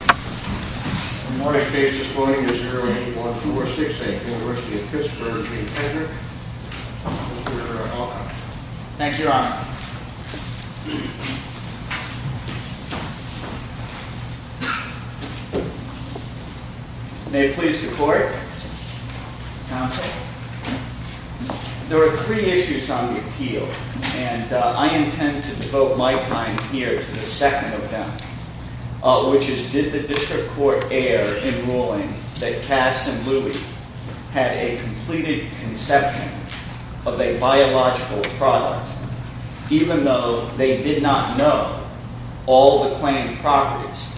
Mr. Hedrick, Mr. Hedrick, welcome. Thank you, your honor. May it please the court. Counsel. There are three issues on the appeal, and I intend to devote my time here to the second of them, which is, did the district court err in ruling that Katz and Louie had a completed conception of a biological product, even though they did not know all the claimed properties?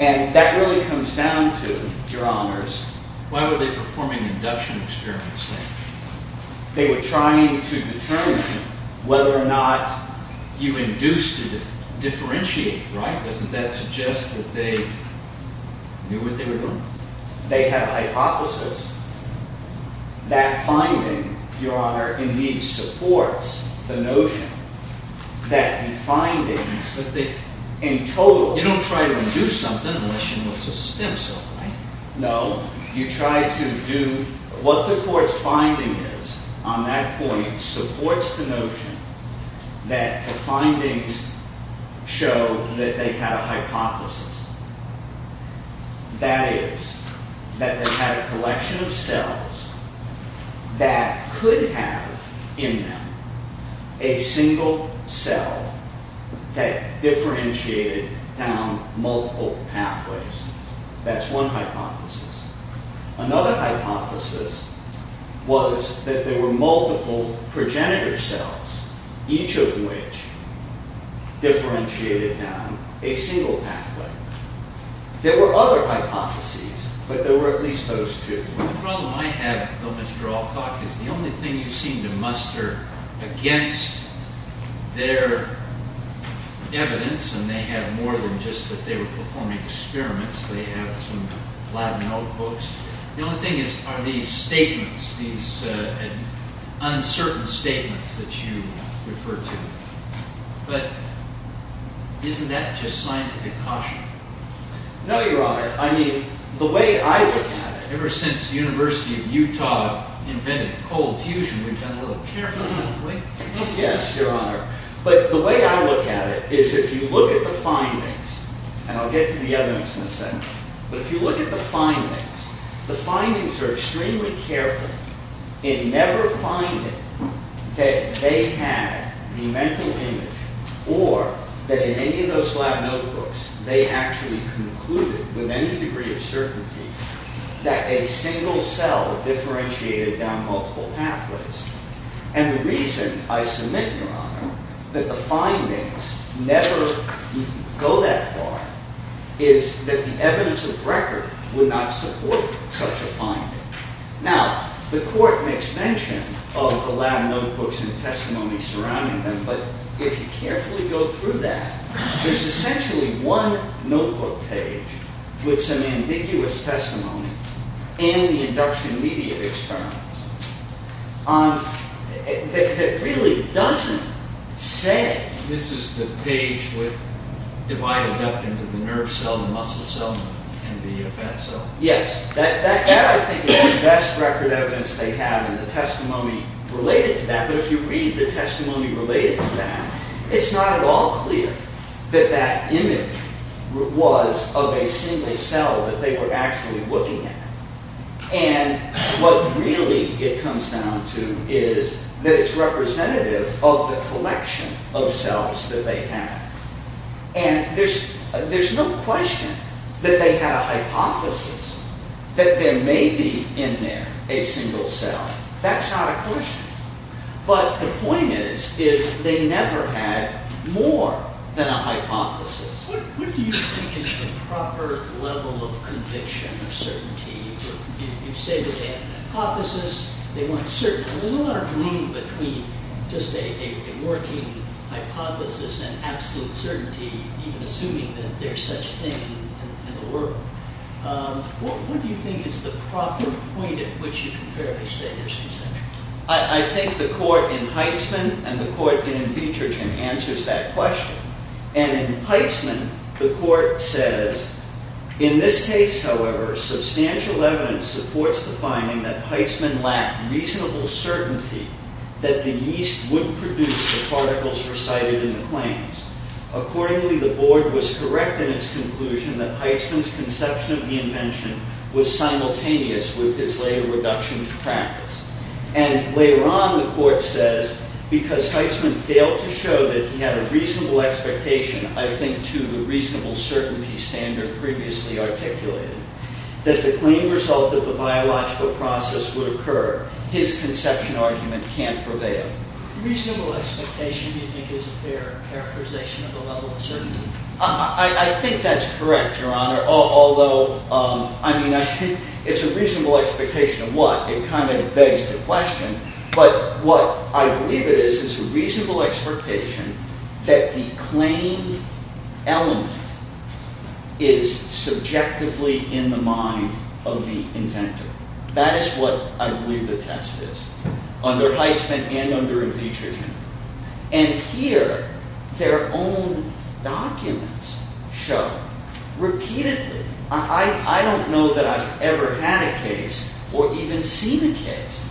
And that really comes down to, your honors, why were they performing induction experiments? They were trying to determine whether or not you induced a differentiator, right? Doesn't that suggest that they knew what they were doing? They had a hypothesis. That finding, your honor, indeed supports the notion that the findings that they in total... You don't try to induce something unless you know it's a stem cell, right? No, you try to do... What the court's finding is on that point supports the notion that the findings show that they had a hypothesis. That is, that they had a collection of cells that could have in them a single cell that differentiated down multiple pathways. That's one hypothesis. Another hypothesis was that there were multiple progenitor cells, each of which differentiated down a single pathway. There were other hypotheses, but there were at least those two. The problem I have, though, Mr. Alcock, is the only thing you seem to muster against their evidence, and they have more than just that they were performing experiments. They have some lab notebooks. The only thing is, are these statements, these uncertain statements that you refer to, but isn't that just scientific caution? No, your honor. I mean, the way I look at it... Ever since the University of Utah invented cold fusion, we've done a little careful... Yes, your honor. But the way I look at it is if you look at the findings, and I'll get to the evidence in a second, but if you look at the findings, the findings are extremely careful in never finding that they had the mental image or that in any of those lab notebooks they actually concluded with any degree of certainty that a single cell differentiated down multiple pathways. And the reason I submit, your honor, that the findings never go that far is that the evidence of record would not support such a finding. Now, the court makes mention of the lab notebooks and the testimony surrounding them, but if you carefully go through that, there's essentially one notebook page with some ambiguous testimony in the induction media experiments that really doesn't say... This is the page divided up into the nerve cell, the muscle cell, and the fat cell. Yes, that I think is the best record evidence they have in the testimony related to that. But if you read the testimony related to that, it's not at all clear that that image was of a single cell that they were actually looking at. And what really it comes down to is that it's representative of the collection of cells that they had. And there's no question that they had a hypothesis that there may be in there a single cell. That's not a question. But the point is, is they never had more than a hypothesis. What do you think is the proper level of conviction or certainty? You stated they had an hypothesis, they weren't certain. There's a lot of room between just a working hypothesis and absolute certainty, even assuming that there's such a thing in the world. What do you think is the proper point at which you can fairly say there's conception? I think the court in Heitzman and the court in Fietchergen answers that question. And in Heitzman, the court says, In this case, however, substantial evidence supports the finding that Heitzman lacked reasonable certainty that the yeast would produce the particles recited in the claims. Accordingly, the board was correct in its conclusion that Heitzman's conception of the invention was simultaneous with his later reduction to practice. And later on, the court says, Because Heitzman failed to show that he had a reasonable expectation, I think, to the reasonable certainty standard previously articulated, that the claimed result of the biological process would occur. His conception argument can't prevail. Reasonable expectation, do you think, is a fair characterization of the level of certainty? I think that's correct, Your Honor. Although, I mean, it's a reasonable expectation of what? It kind of begs the question. But what I believe it is is a reasonable expectation that the claimed element is subjectively in the mind of the inventor. That is what I believe the test is, under Heitzman and under Fietchergen. And here, their own documents show, repeatedly, I don't know that I've ever had a case, or even seen a case,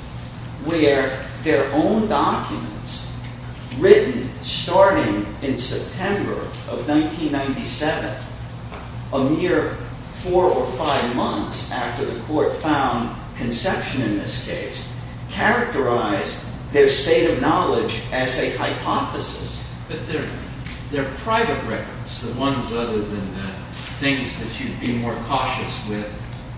where their own documents, written starting in September of 1997, a mere four or five months after the court found conception in this case, characterized their state of knowledge as a hypothesis. But their private records, the ones other than the things that you'd be more cautious with,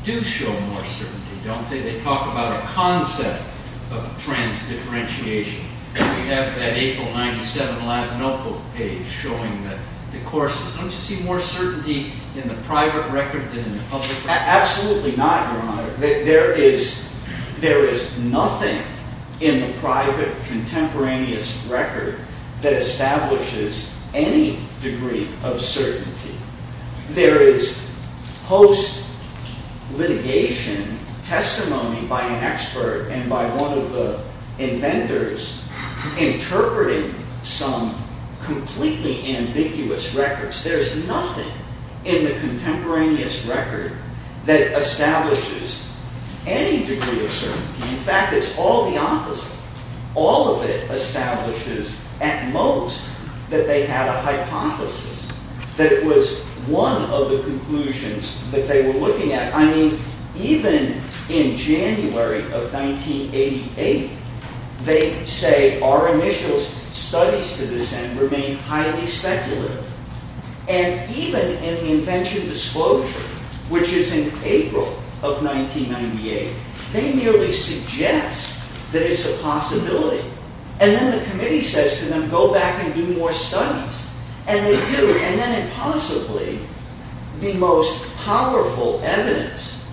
do show more certainty, don't they? They talk about a concept of trans-differentiation. We have that April 1997 notebook page showing the courses. Don't you see more certainty in the private record than in the public record? Absolutely not, Your Honor. There is nothing in the private contemporaneous record that establishes any degree of certainty. There is post-litigation testimony by an expert and by one of the inventors interpreting some completely ambiguous records. There is nothing in the contemporaneous record that establishes any degree of certainty. In fact, it's all the opposite. All of it establishes, at most, that they had a hypothesis that was one of the conclusions that they were looking at. I mean, even in January of 1988, they say, our initial studies to this end remain highly speculative. And even in the invention disclosure, which is in April of 1998, they merely suggest that it's a possibility. And then the committee says to them, go back and do more studies. And they do. And then, impossibly, the most powerful evidence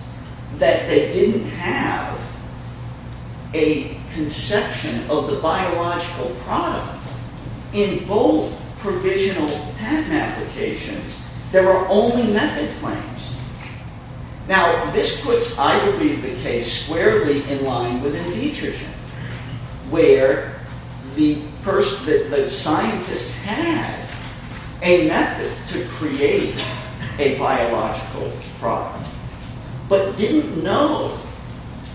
that they didn't have a conception of the biological product in both provisional patent applications, there were only method claims. Now, this puts, I believe, the case squarely in line with endetritin, where the scientist had a method to create a biological product but didn't know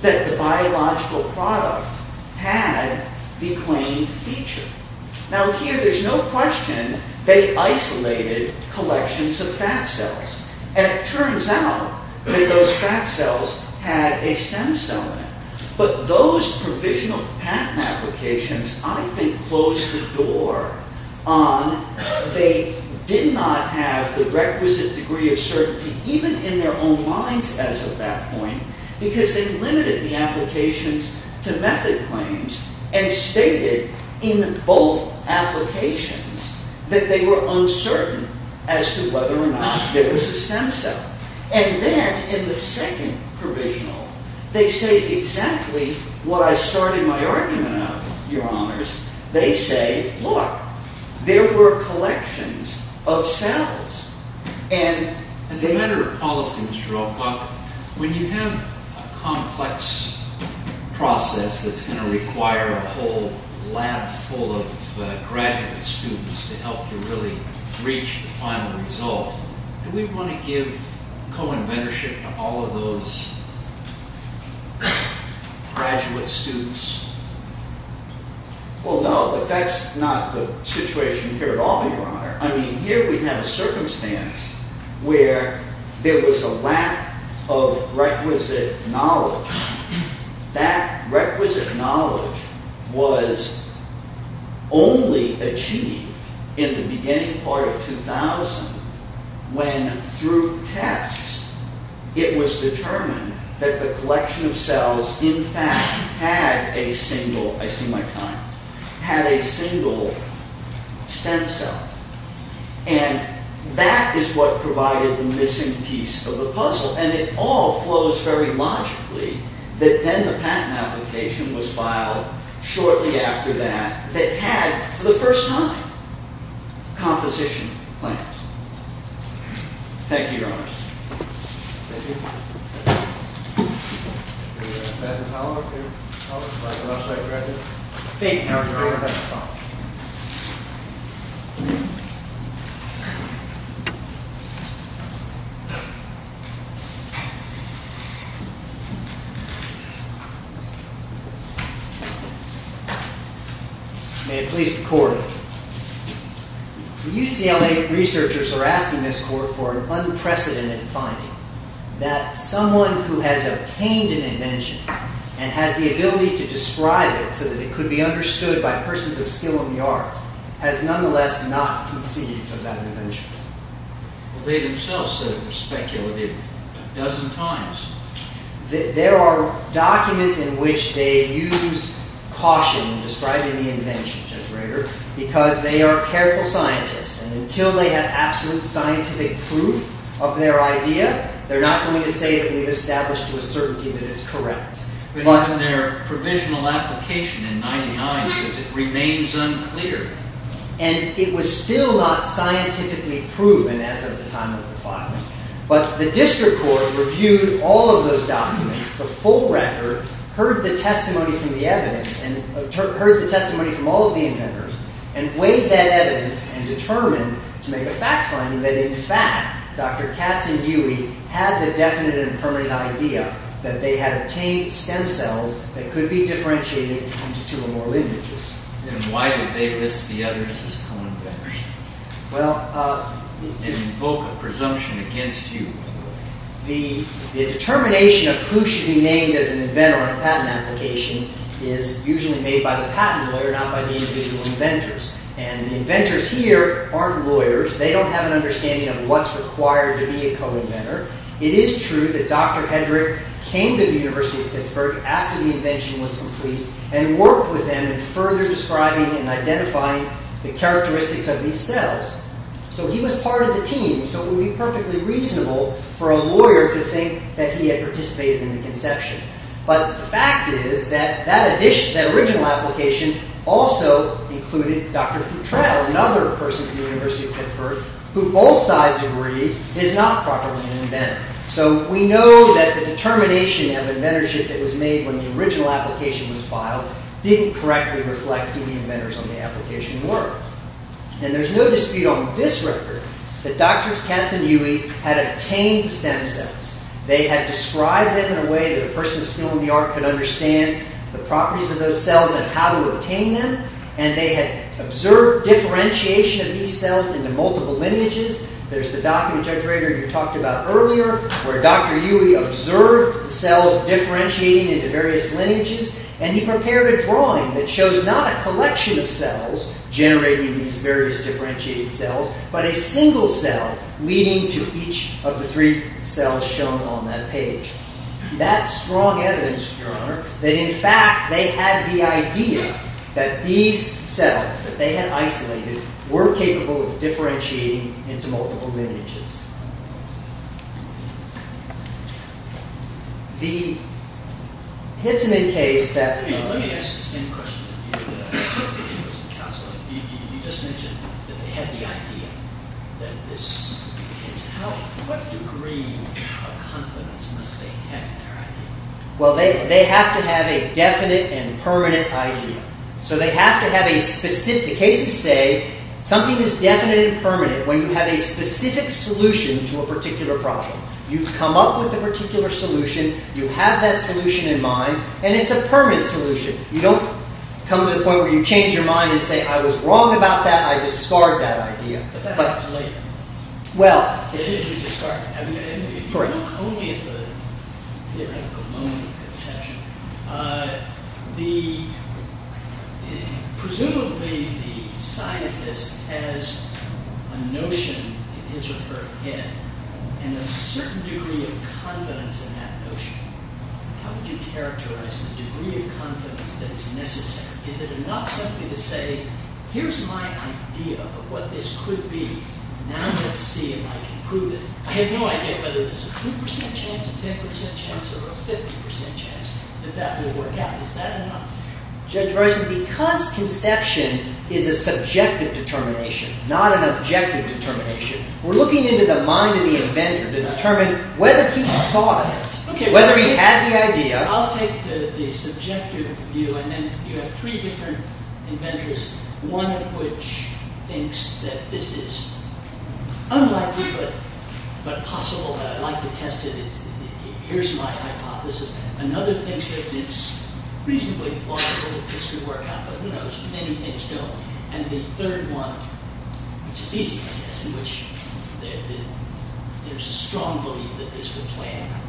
that the biological product had the claimed feature. Now, here, there's no question they isolated collections of fat cells. And it turns out that those fat cells had a stem cell in it. But those provisional patent applications, I think, closed the door on they did not have the requisite degree of certainty, even in their own minds as of that point, because they limited the applications to method claims and stated in both applications that they were uncertain as to whether or not there was a stem cell. And then, in the second provisional, they say exactly what I started my argument of, Your Honors. They say, look, there were collections of cells. And as a matter of policy, Mr. Alcock, when you have a complex process that's going to require a whole lab full of graduate students to help you really reach the final result, do we want to give co-inventorship to all of those graduate students? Well, no, but that's not the situation here at all, Your Honor. I mean, here we have a circumstance where there was a lack of requisite knowledge. That requisite knowledge was only achieved in the beginning part of 2000 when, through tests, it was determined that the collection of cells, in fact, had a single, I see my time, had a single stem cell. And that is what provided the missing piece of the puzzle. And it all flows very logically that then the patent application was filed shortly after that that had, for the first time, composition plans. Thank you, Your Honors. Thank you. Thank you. May it please the Court, The UCLA researchers are asking this Court for an unprecedented finding that someone who has obtained an invention and has the ability to describe it so that it could be understood by persons of skill in the art has nonetheless not conceived of that invention. They themselves said it was speculative a dozen times. There are documents in which they use caution in describing the invention, Judge Rader, because they are careful scientists. And until they have absolute scientific proof of their idea, they're not going to say that we've established to a certainty that it's correct. But even their provisional application in 1999 says it remains unclear. And it was still not scientifically proven as of the time of the filing. But the District Court reviewed all of those documents, the full record, heard the testimony from the evidence, heard the testimony from all of the inventors, and weighed that evidence and determined to make a fact-finding that, in fact, Dr. Katz and Dewey had the definite and permanent idea that they had obtained stem cells that could be differentiated into two or more lineages. Then why did they list the others as co-inventors? Well... And invoke a presumption against you. The determination of who should be named as an inventor on a patent application is usually made by the patent lawyer, not by the individual inventors. And the inventors here aren't lawyers. They don't have an understanding of what's required to be a co-inventor. It is true that Dr. Hendrick came to the University of Pittsburgh after the invention was complete and worked with them in further describing and identifying the characteristics of these cells. So he was part of the team. So it would be perfectly reasonable for a lawyer to think that he had participated in the conception. But the fact is that that original application also included Dr. Futrell, another person from the University of Pittsburgh, who both sides agreed is not properly an inventor. So we know that the determination of inventorship that was made when the original application was filed didn't correctly reflect who the inventors on the application were. And there's no dispute on this record that Drs. Katz and Yui had obtained stem cells. They had described them in a way that a person of skill in the art could understand the properties of those cells and how to obtain them. And they had observed differentiation of these cells into multiple lineages. There's the docking injectorator you talked about earlier, where Dr. Yui observed the cells differentiating into various lineages. And he prepared a drawing that shows not a collection of cells generating these various differentiated cells, but a single cell leading to each of the three cells shown on that page. That's strong evidence, Your Honor, that in fact they had the idea that these cells, that they had isolated, were capable of differentiating into multiple lineages. The Hitzeman case that- Let me ask the same question that you did You just mentioned that they had the idea that this- What degree of confidence must they have in their idea? Well, they have to have a definite and permanent idea. So they have to have a specific- The cases say something is definite and permanent when you have a specific solution to a particular problem. You've come up with a particular solution, you have that solution in mind, and it's a permanent solution. You don't come to the point where you change your mind and say, I was wrong about that, I discard that idea. But that's later. If you look only at the theoretical moment of conception, presumably the scientist has a notion in his or her head, and a certain degree of confidence in that notion. How would you characterize the degree of confidence that is necessary? Is it enough simply to say, here's my idea of what this could be, now let's see if I can prove it. I have no idea whether there's a 2% chance, a 10% chance, or a 50% chance that that will work out. Is that enough? Judge Bryson, because conception is a subjective determination, not an objective determination, we're looking into the mind of the inventor to determine whether he thought, whether he had the idea. I'll take the subjective view, and then you have three different inventors, one of which thinks that this is unlikely but possible, that I'd like to test it, here's my hypothesis. Another thinks that it's reasonably possible that this could work out, but who knows, many things don't. And the third one, which is easy I guess, in which there's a strong belief that this will play out.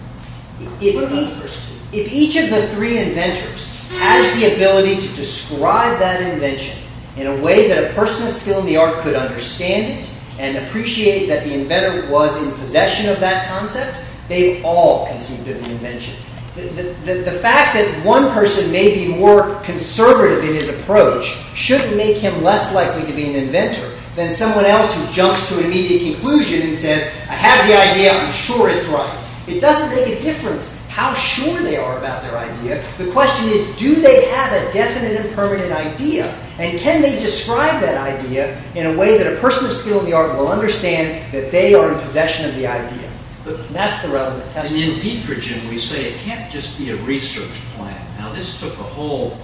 If each of the three inventors has the ability to describe that invention in a way that a person of skill in the art could understand it, and appreciate that the inventor was in possession of that concept, they've all conceived of the invention. The fact that one person may be more conservative in his approach shouldn't make him less likely to be an inventor than someone else who jumps to an immediate conclusion and says, I have the idea, I'm sure it's right. It doesn't make a difference how sure they are about their idea, the question is do they have a definite and permanent idea, and can they describe that idea in a way that a person of skill in the art will understand that they are in possession of the idea. That's the relevant test. And in Petrogen we say it can't just be a research plan. Now this took a whole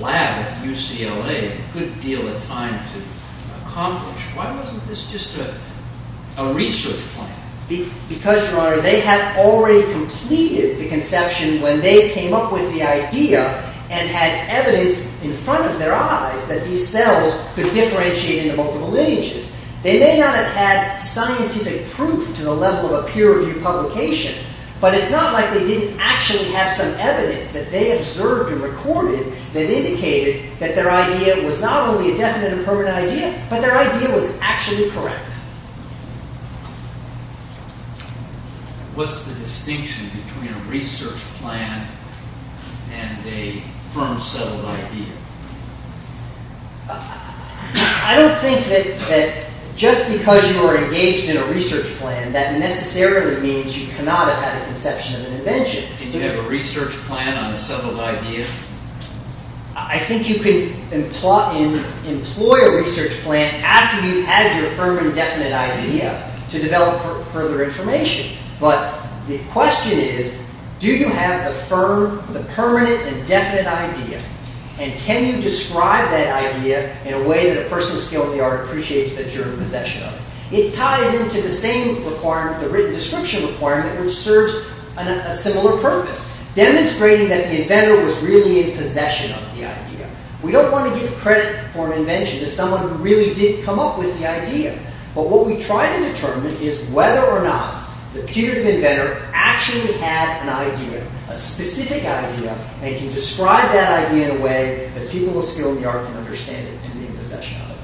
lab at UCLA a good deal of time to accomplish. Why wasn't this just a research plan? Because, Your Honor, they had already completed the conception when they came up with the idea and had evidence in front of their eyes that these cells could differentiate into multiple lineages. They may not have had scientific proof to the level of a peer-reviewed publication, but it's not like they didn't actually have some evidence that they observed and recorded that indicated that their idea was not only a definite and permanent idea, but their idea was actually correct. What's the distinction between a research plan and a firm settled idea? I don't think that just because you are engaged in a research plan that necessarily means you cannot have had a conception of an invention. Can you have a research plan on a settled idea? I think you can employ a research plan after you've had your firm and definite idea to develop further information. But the question is, do you have the firm, the permanent and definite idea? And can you describe that idea in a way that a person with a skill of the art appreciates that you're in possession of it? It ties into the same requirement, the written description requirement, which serves a similar purpose. Demonstrating that the inventor was really in possession of the idea. We don't want to give credit for an invention to someone who really didn't come up with the idea. But what we try to determine is whether or not the peer-reviewed inventor actually had an idea, a specific idea, and can describe that idea in a way that people with skill in the art can understand it and be in possession of it.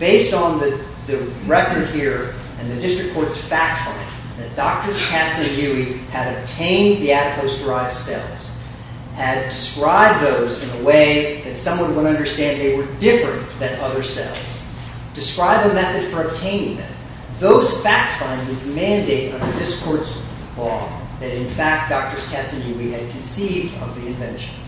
Based on the record here and the district court's fact finding, that Drs. Katz and Huey had obtained the adipose-derived cells, had described those in a way that someone would understand they were different than other cells, described the method for obtaining them, those fact findings mandate under this court's law that in fact Drs. Katz and Huey had conceived of the invention.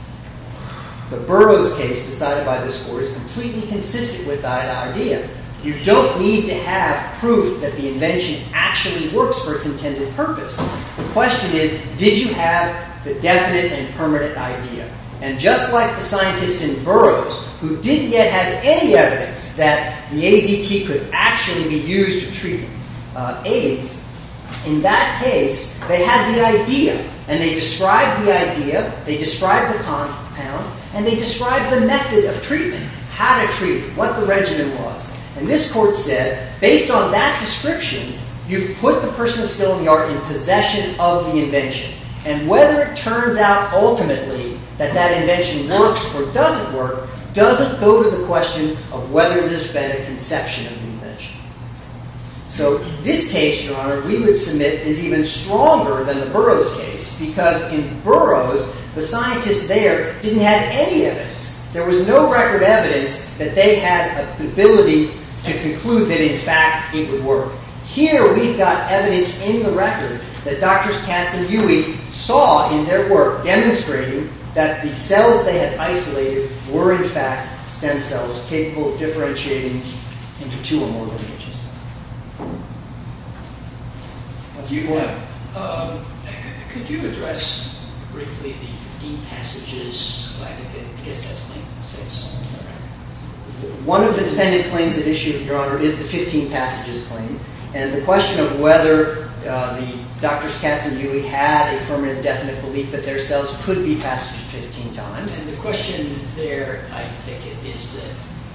The Burroughs case decided by this court is completely consistent with that idea. You don't need to have proof that the invention actually works for its intended purpose. The question is, did you have the definite and permanent idea? And just like the scientists in Burroughs who didn't yet have any evidence that the AZT could actually be used to treat AIDS, in that case, they had the idea. And they described the idea, they described the compound, and they described the method of treatment, how to treat it, what the regimen was. And this court said, based on that description, you've put the person with skill in the art in possession of the invention. And whether it turns out ultimately that that invention works or doesn't work doesn't go to the question of whether there's been a conception of the invention. So this case, Your Honor, we would submit is even stronger than the Burroughs case because in Burroughs, the scientists there didn't have any evidence. There was no record evidence that they had the ability to conclude that in fact it would work. Here we've got evidence in the record that Drs. Katz and Huey saw in their work demonstrating that the cells they had isolated were in fact stem cells capable of differentiating into two or more images. You, go ahead. Could you address briefly the 15 passages? I guess that's claim 6. One of the dependent claims at issue, Your Honor, is the 15 passages claim. And the question of whether Drs. Katz and Huey had a firm and definite belief that their cells could be passaged 15 times. The question there, I take it, is that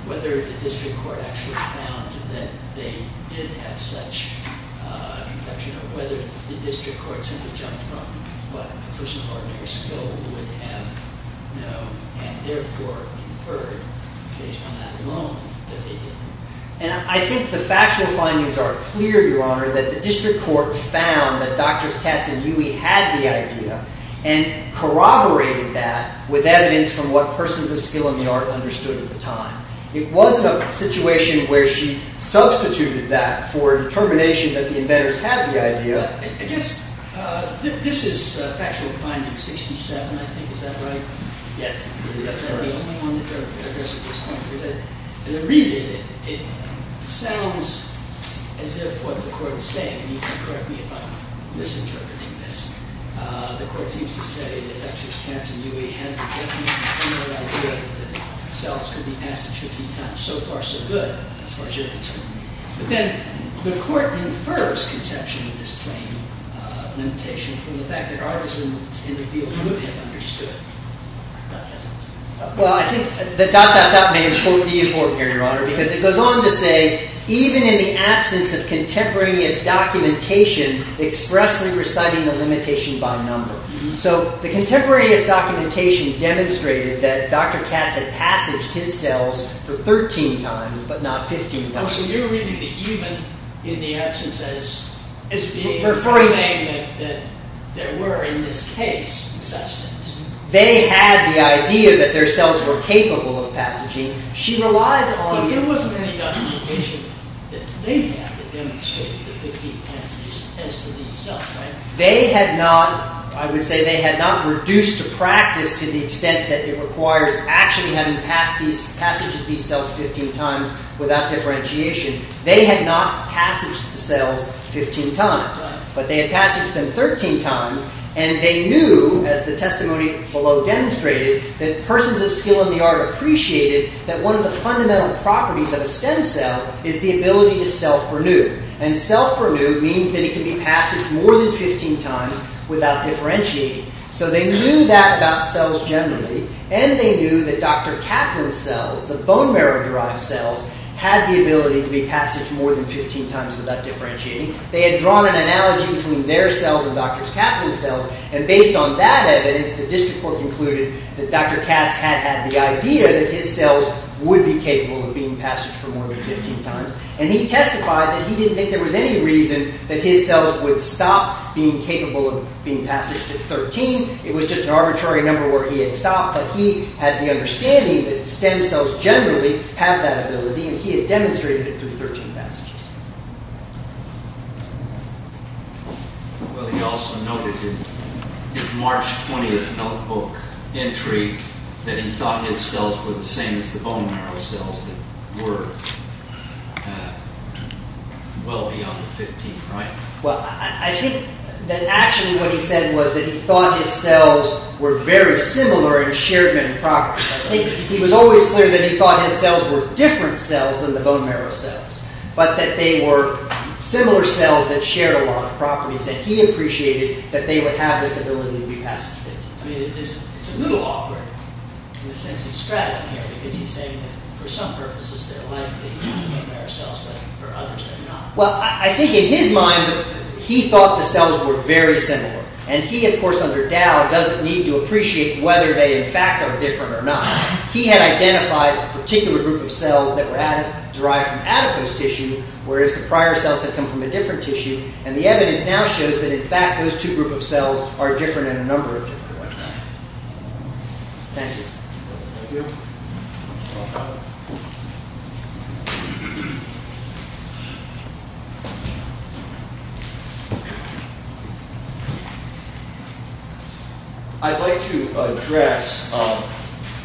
whether the district court actually found that they did have such a conception or whether the district court simply jumped from what a person of ordinary skill would have known and therefore inferred based on that alone that they didn't. And I think the factual findings are clear, Your Honor, that the district court found that Drs. Katz and Huey had the idea and corroborated that with evidence from what persons of skill in the art understood at the time. It wasn't a situation where she substituted that for a determination that the inventors had the idea. I guess this is factual finding 67, I think. Is that right? Yes. Is that the only one that addresses this point? Because as I read it, it sounds as if what the court is saying, and you can correct me if I'm misinterpreting this, the court seems to say that Drs. Katz and Huey had a definite and clear idea that cells could be passaged 15 times. So far, so good, as far as you're concerned. But then the court infers conception of this claim limitation from the fact that artisans in the field would have understood. Well, I think the dot, dot, dot may be important here, Your Honor, because it goes on to say, even in the absence of contemporaneous documentation expressly reciting the limitation by number. So the contemporaneous documentation demonstrated that Dr. Katz had passaged his cells for 13 times, but not 15 times. Oh, so you're reading the even in the absence as being saying that there were in this case such things. They had the idea that their cells were capable of passaging. But there wasn't any documentation that they had that demonstrated the 15 passages as to these cells, right? They had not. I would say they had not reduced to practice to the extent that it requires actually having passages these cells 15 times without differentiation. They had not passaged the cells 15 times. But they had passaged them 13 times, and they knew, as the testimony below demonstrated, that persons of skill in the art appreciated that one of the fundamental properties of a stem cell is the ability to self-renew. And self-renew means that it can be passaged more than 15 times without differentiating. So they knew that about cells generally, and they knew that Dr. Kaplan's cells, the bone marrow-derived cells, had the ability to be passaged more than 15 times without differentiating. They had drawn an analogy between their cells and Dr. Kaplan's cells, and based on that evidence, the district court concluded that Dr. Katz had had the idea that his cells would be capable of being passaged for more than 15 times. And he testified that he didn't think there was any reason that his cells would stop being capable of being passaged at 13. It was just an arbitrary number where he had stopped, but he had the understanding that stem cells generally have that ability, and he had demonstrated it through 13 passages. Well, he also noted in his March 20th notebook entry that he thought his cells were the same as the bone marrow cells that were well beyond the 15th, right? Well, I think that actually what he said was that he thought his cells were very similar and shared many properties. I think he was always clear that he thought his cells were different cells than the bone marrow cells, but that they were similar cells that shared a lot of properties, and he appreciated that they would have this ability to be passed at 15 times. It's a little awkward in the sense he's straddling here, because he's saying that for some purposes they're like the bone marrow cells, but for others they're not. Well, I think in his mind, he thought the cells were very similar, and he, of course, under Dow, doesn't need to appreciate whether they in fact are different or not. He had identified a particular group of cells that were derived from adipose tissue, whereas the prior cells had come from a different tissue, and the evidence now shows that in fact those two groups of cells are different in a number of different ways. Thank you. I'd like to address,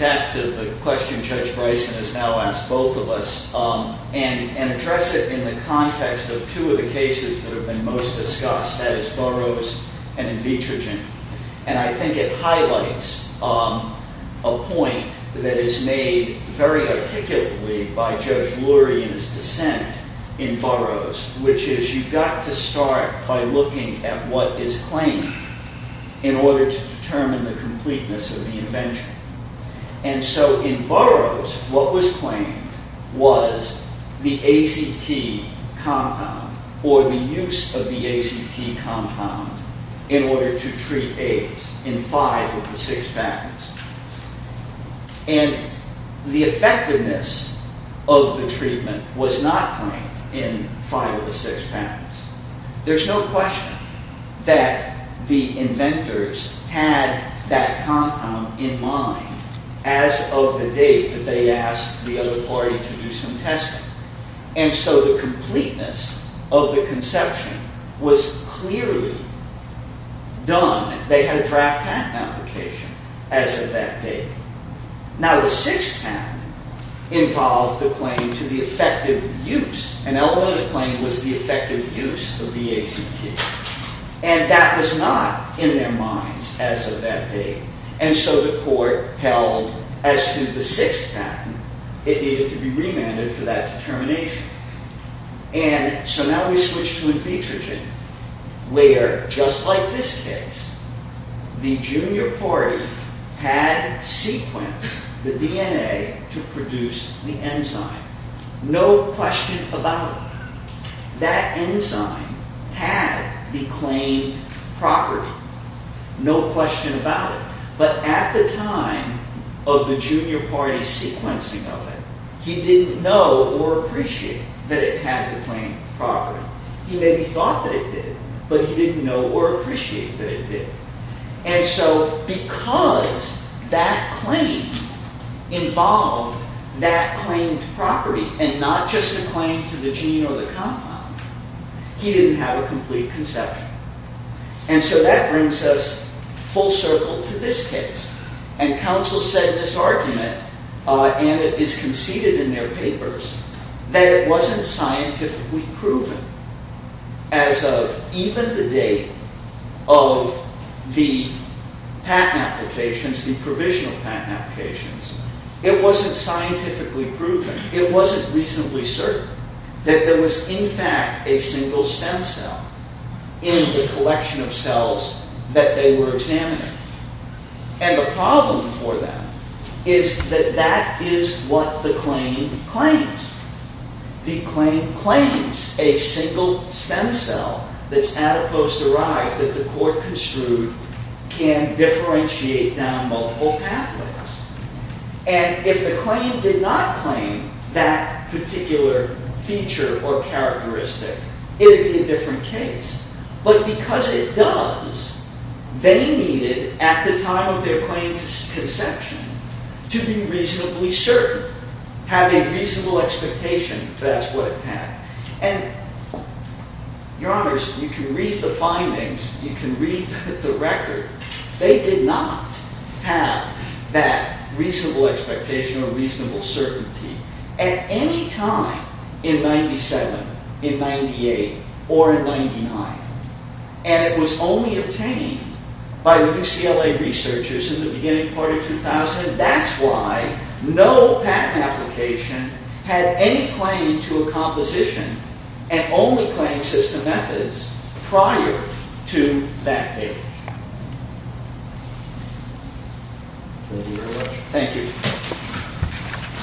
back to the question Judge Bryson has now asked both of us, and address it in the context of two of the cases that have been most discussed, that is Burroughs and in Vitrogen. And I think it highlights a point that is made very articulately by Judge Lurie in his dissent in Burroughs, which is you've got to start by looking at what is claimed in order to determine the completeness of the invention. And so in Burroughs, what was claimed was the ACT compound, or the use of the ACT compound in order to treat AIDS in 5 of the 6 patents. And the effectiveness of the treatment was not claimed in 5 of the 6 patents. There's no question that the inventors had that compound in mind as of the date that they asked the other party to do some testing. And so the completeness of the conception was clearly done. They had a draft patent application as of that date. Now the 6th patent involved the claim to the effective use. An element of the claim was the effective use of the ACT. And that was not in their minds as of that date. And so the court held as to the 6th patent, it needed to be remanded for that determination. And so now we switch to Vitrogen, where just like this case, the junior party had sequenced the DNA to produce the enzyme. No question about it. That enzyme had the claimed property. No question about it. But at the time of the junior party sequencing of it, he didn't know or appreciate that it had the claimed property. He maybe thought that it did, but he didn't know or appreciate that it did. And so because that claim involved that claimed property, and not just a claim to the gene or the compound, he didn't have a complete conception. And so that brings us full circle to this case. And counsel said in this argument, and it is conceded in their papers, that it wasn't scientifically proven as of even the date of the patent applications, the provisional patent applications, it wasn't scientifically proven, it wasn't reasonably certain, that there was in fact a single stem cell in the collection of cells that they were examining. And the problem for them is that that is what the claim claimed. The claim claims a single stem cell that's adipose derived that the court construed can differentiate down multiple pathways. And if the claim did not claim that particular feature or characteristic, it would be a different case. But because it does, they needed, at the time of their claim's conception, to be reasonably certain, or have a reasonable expectation to ask what it had. And, your honors, you can read the findings, you can read the record, they did not have that reasonable expectation or reasonable certainty at any time in 97, in 98, or in 99. And it was only obtained by the UCLA researchers in the beginning part of 2000. That's why no patent application had any claim to a composition and only claimed system methods prior to that date. Thank you.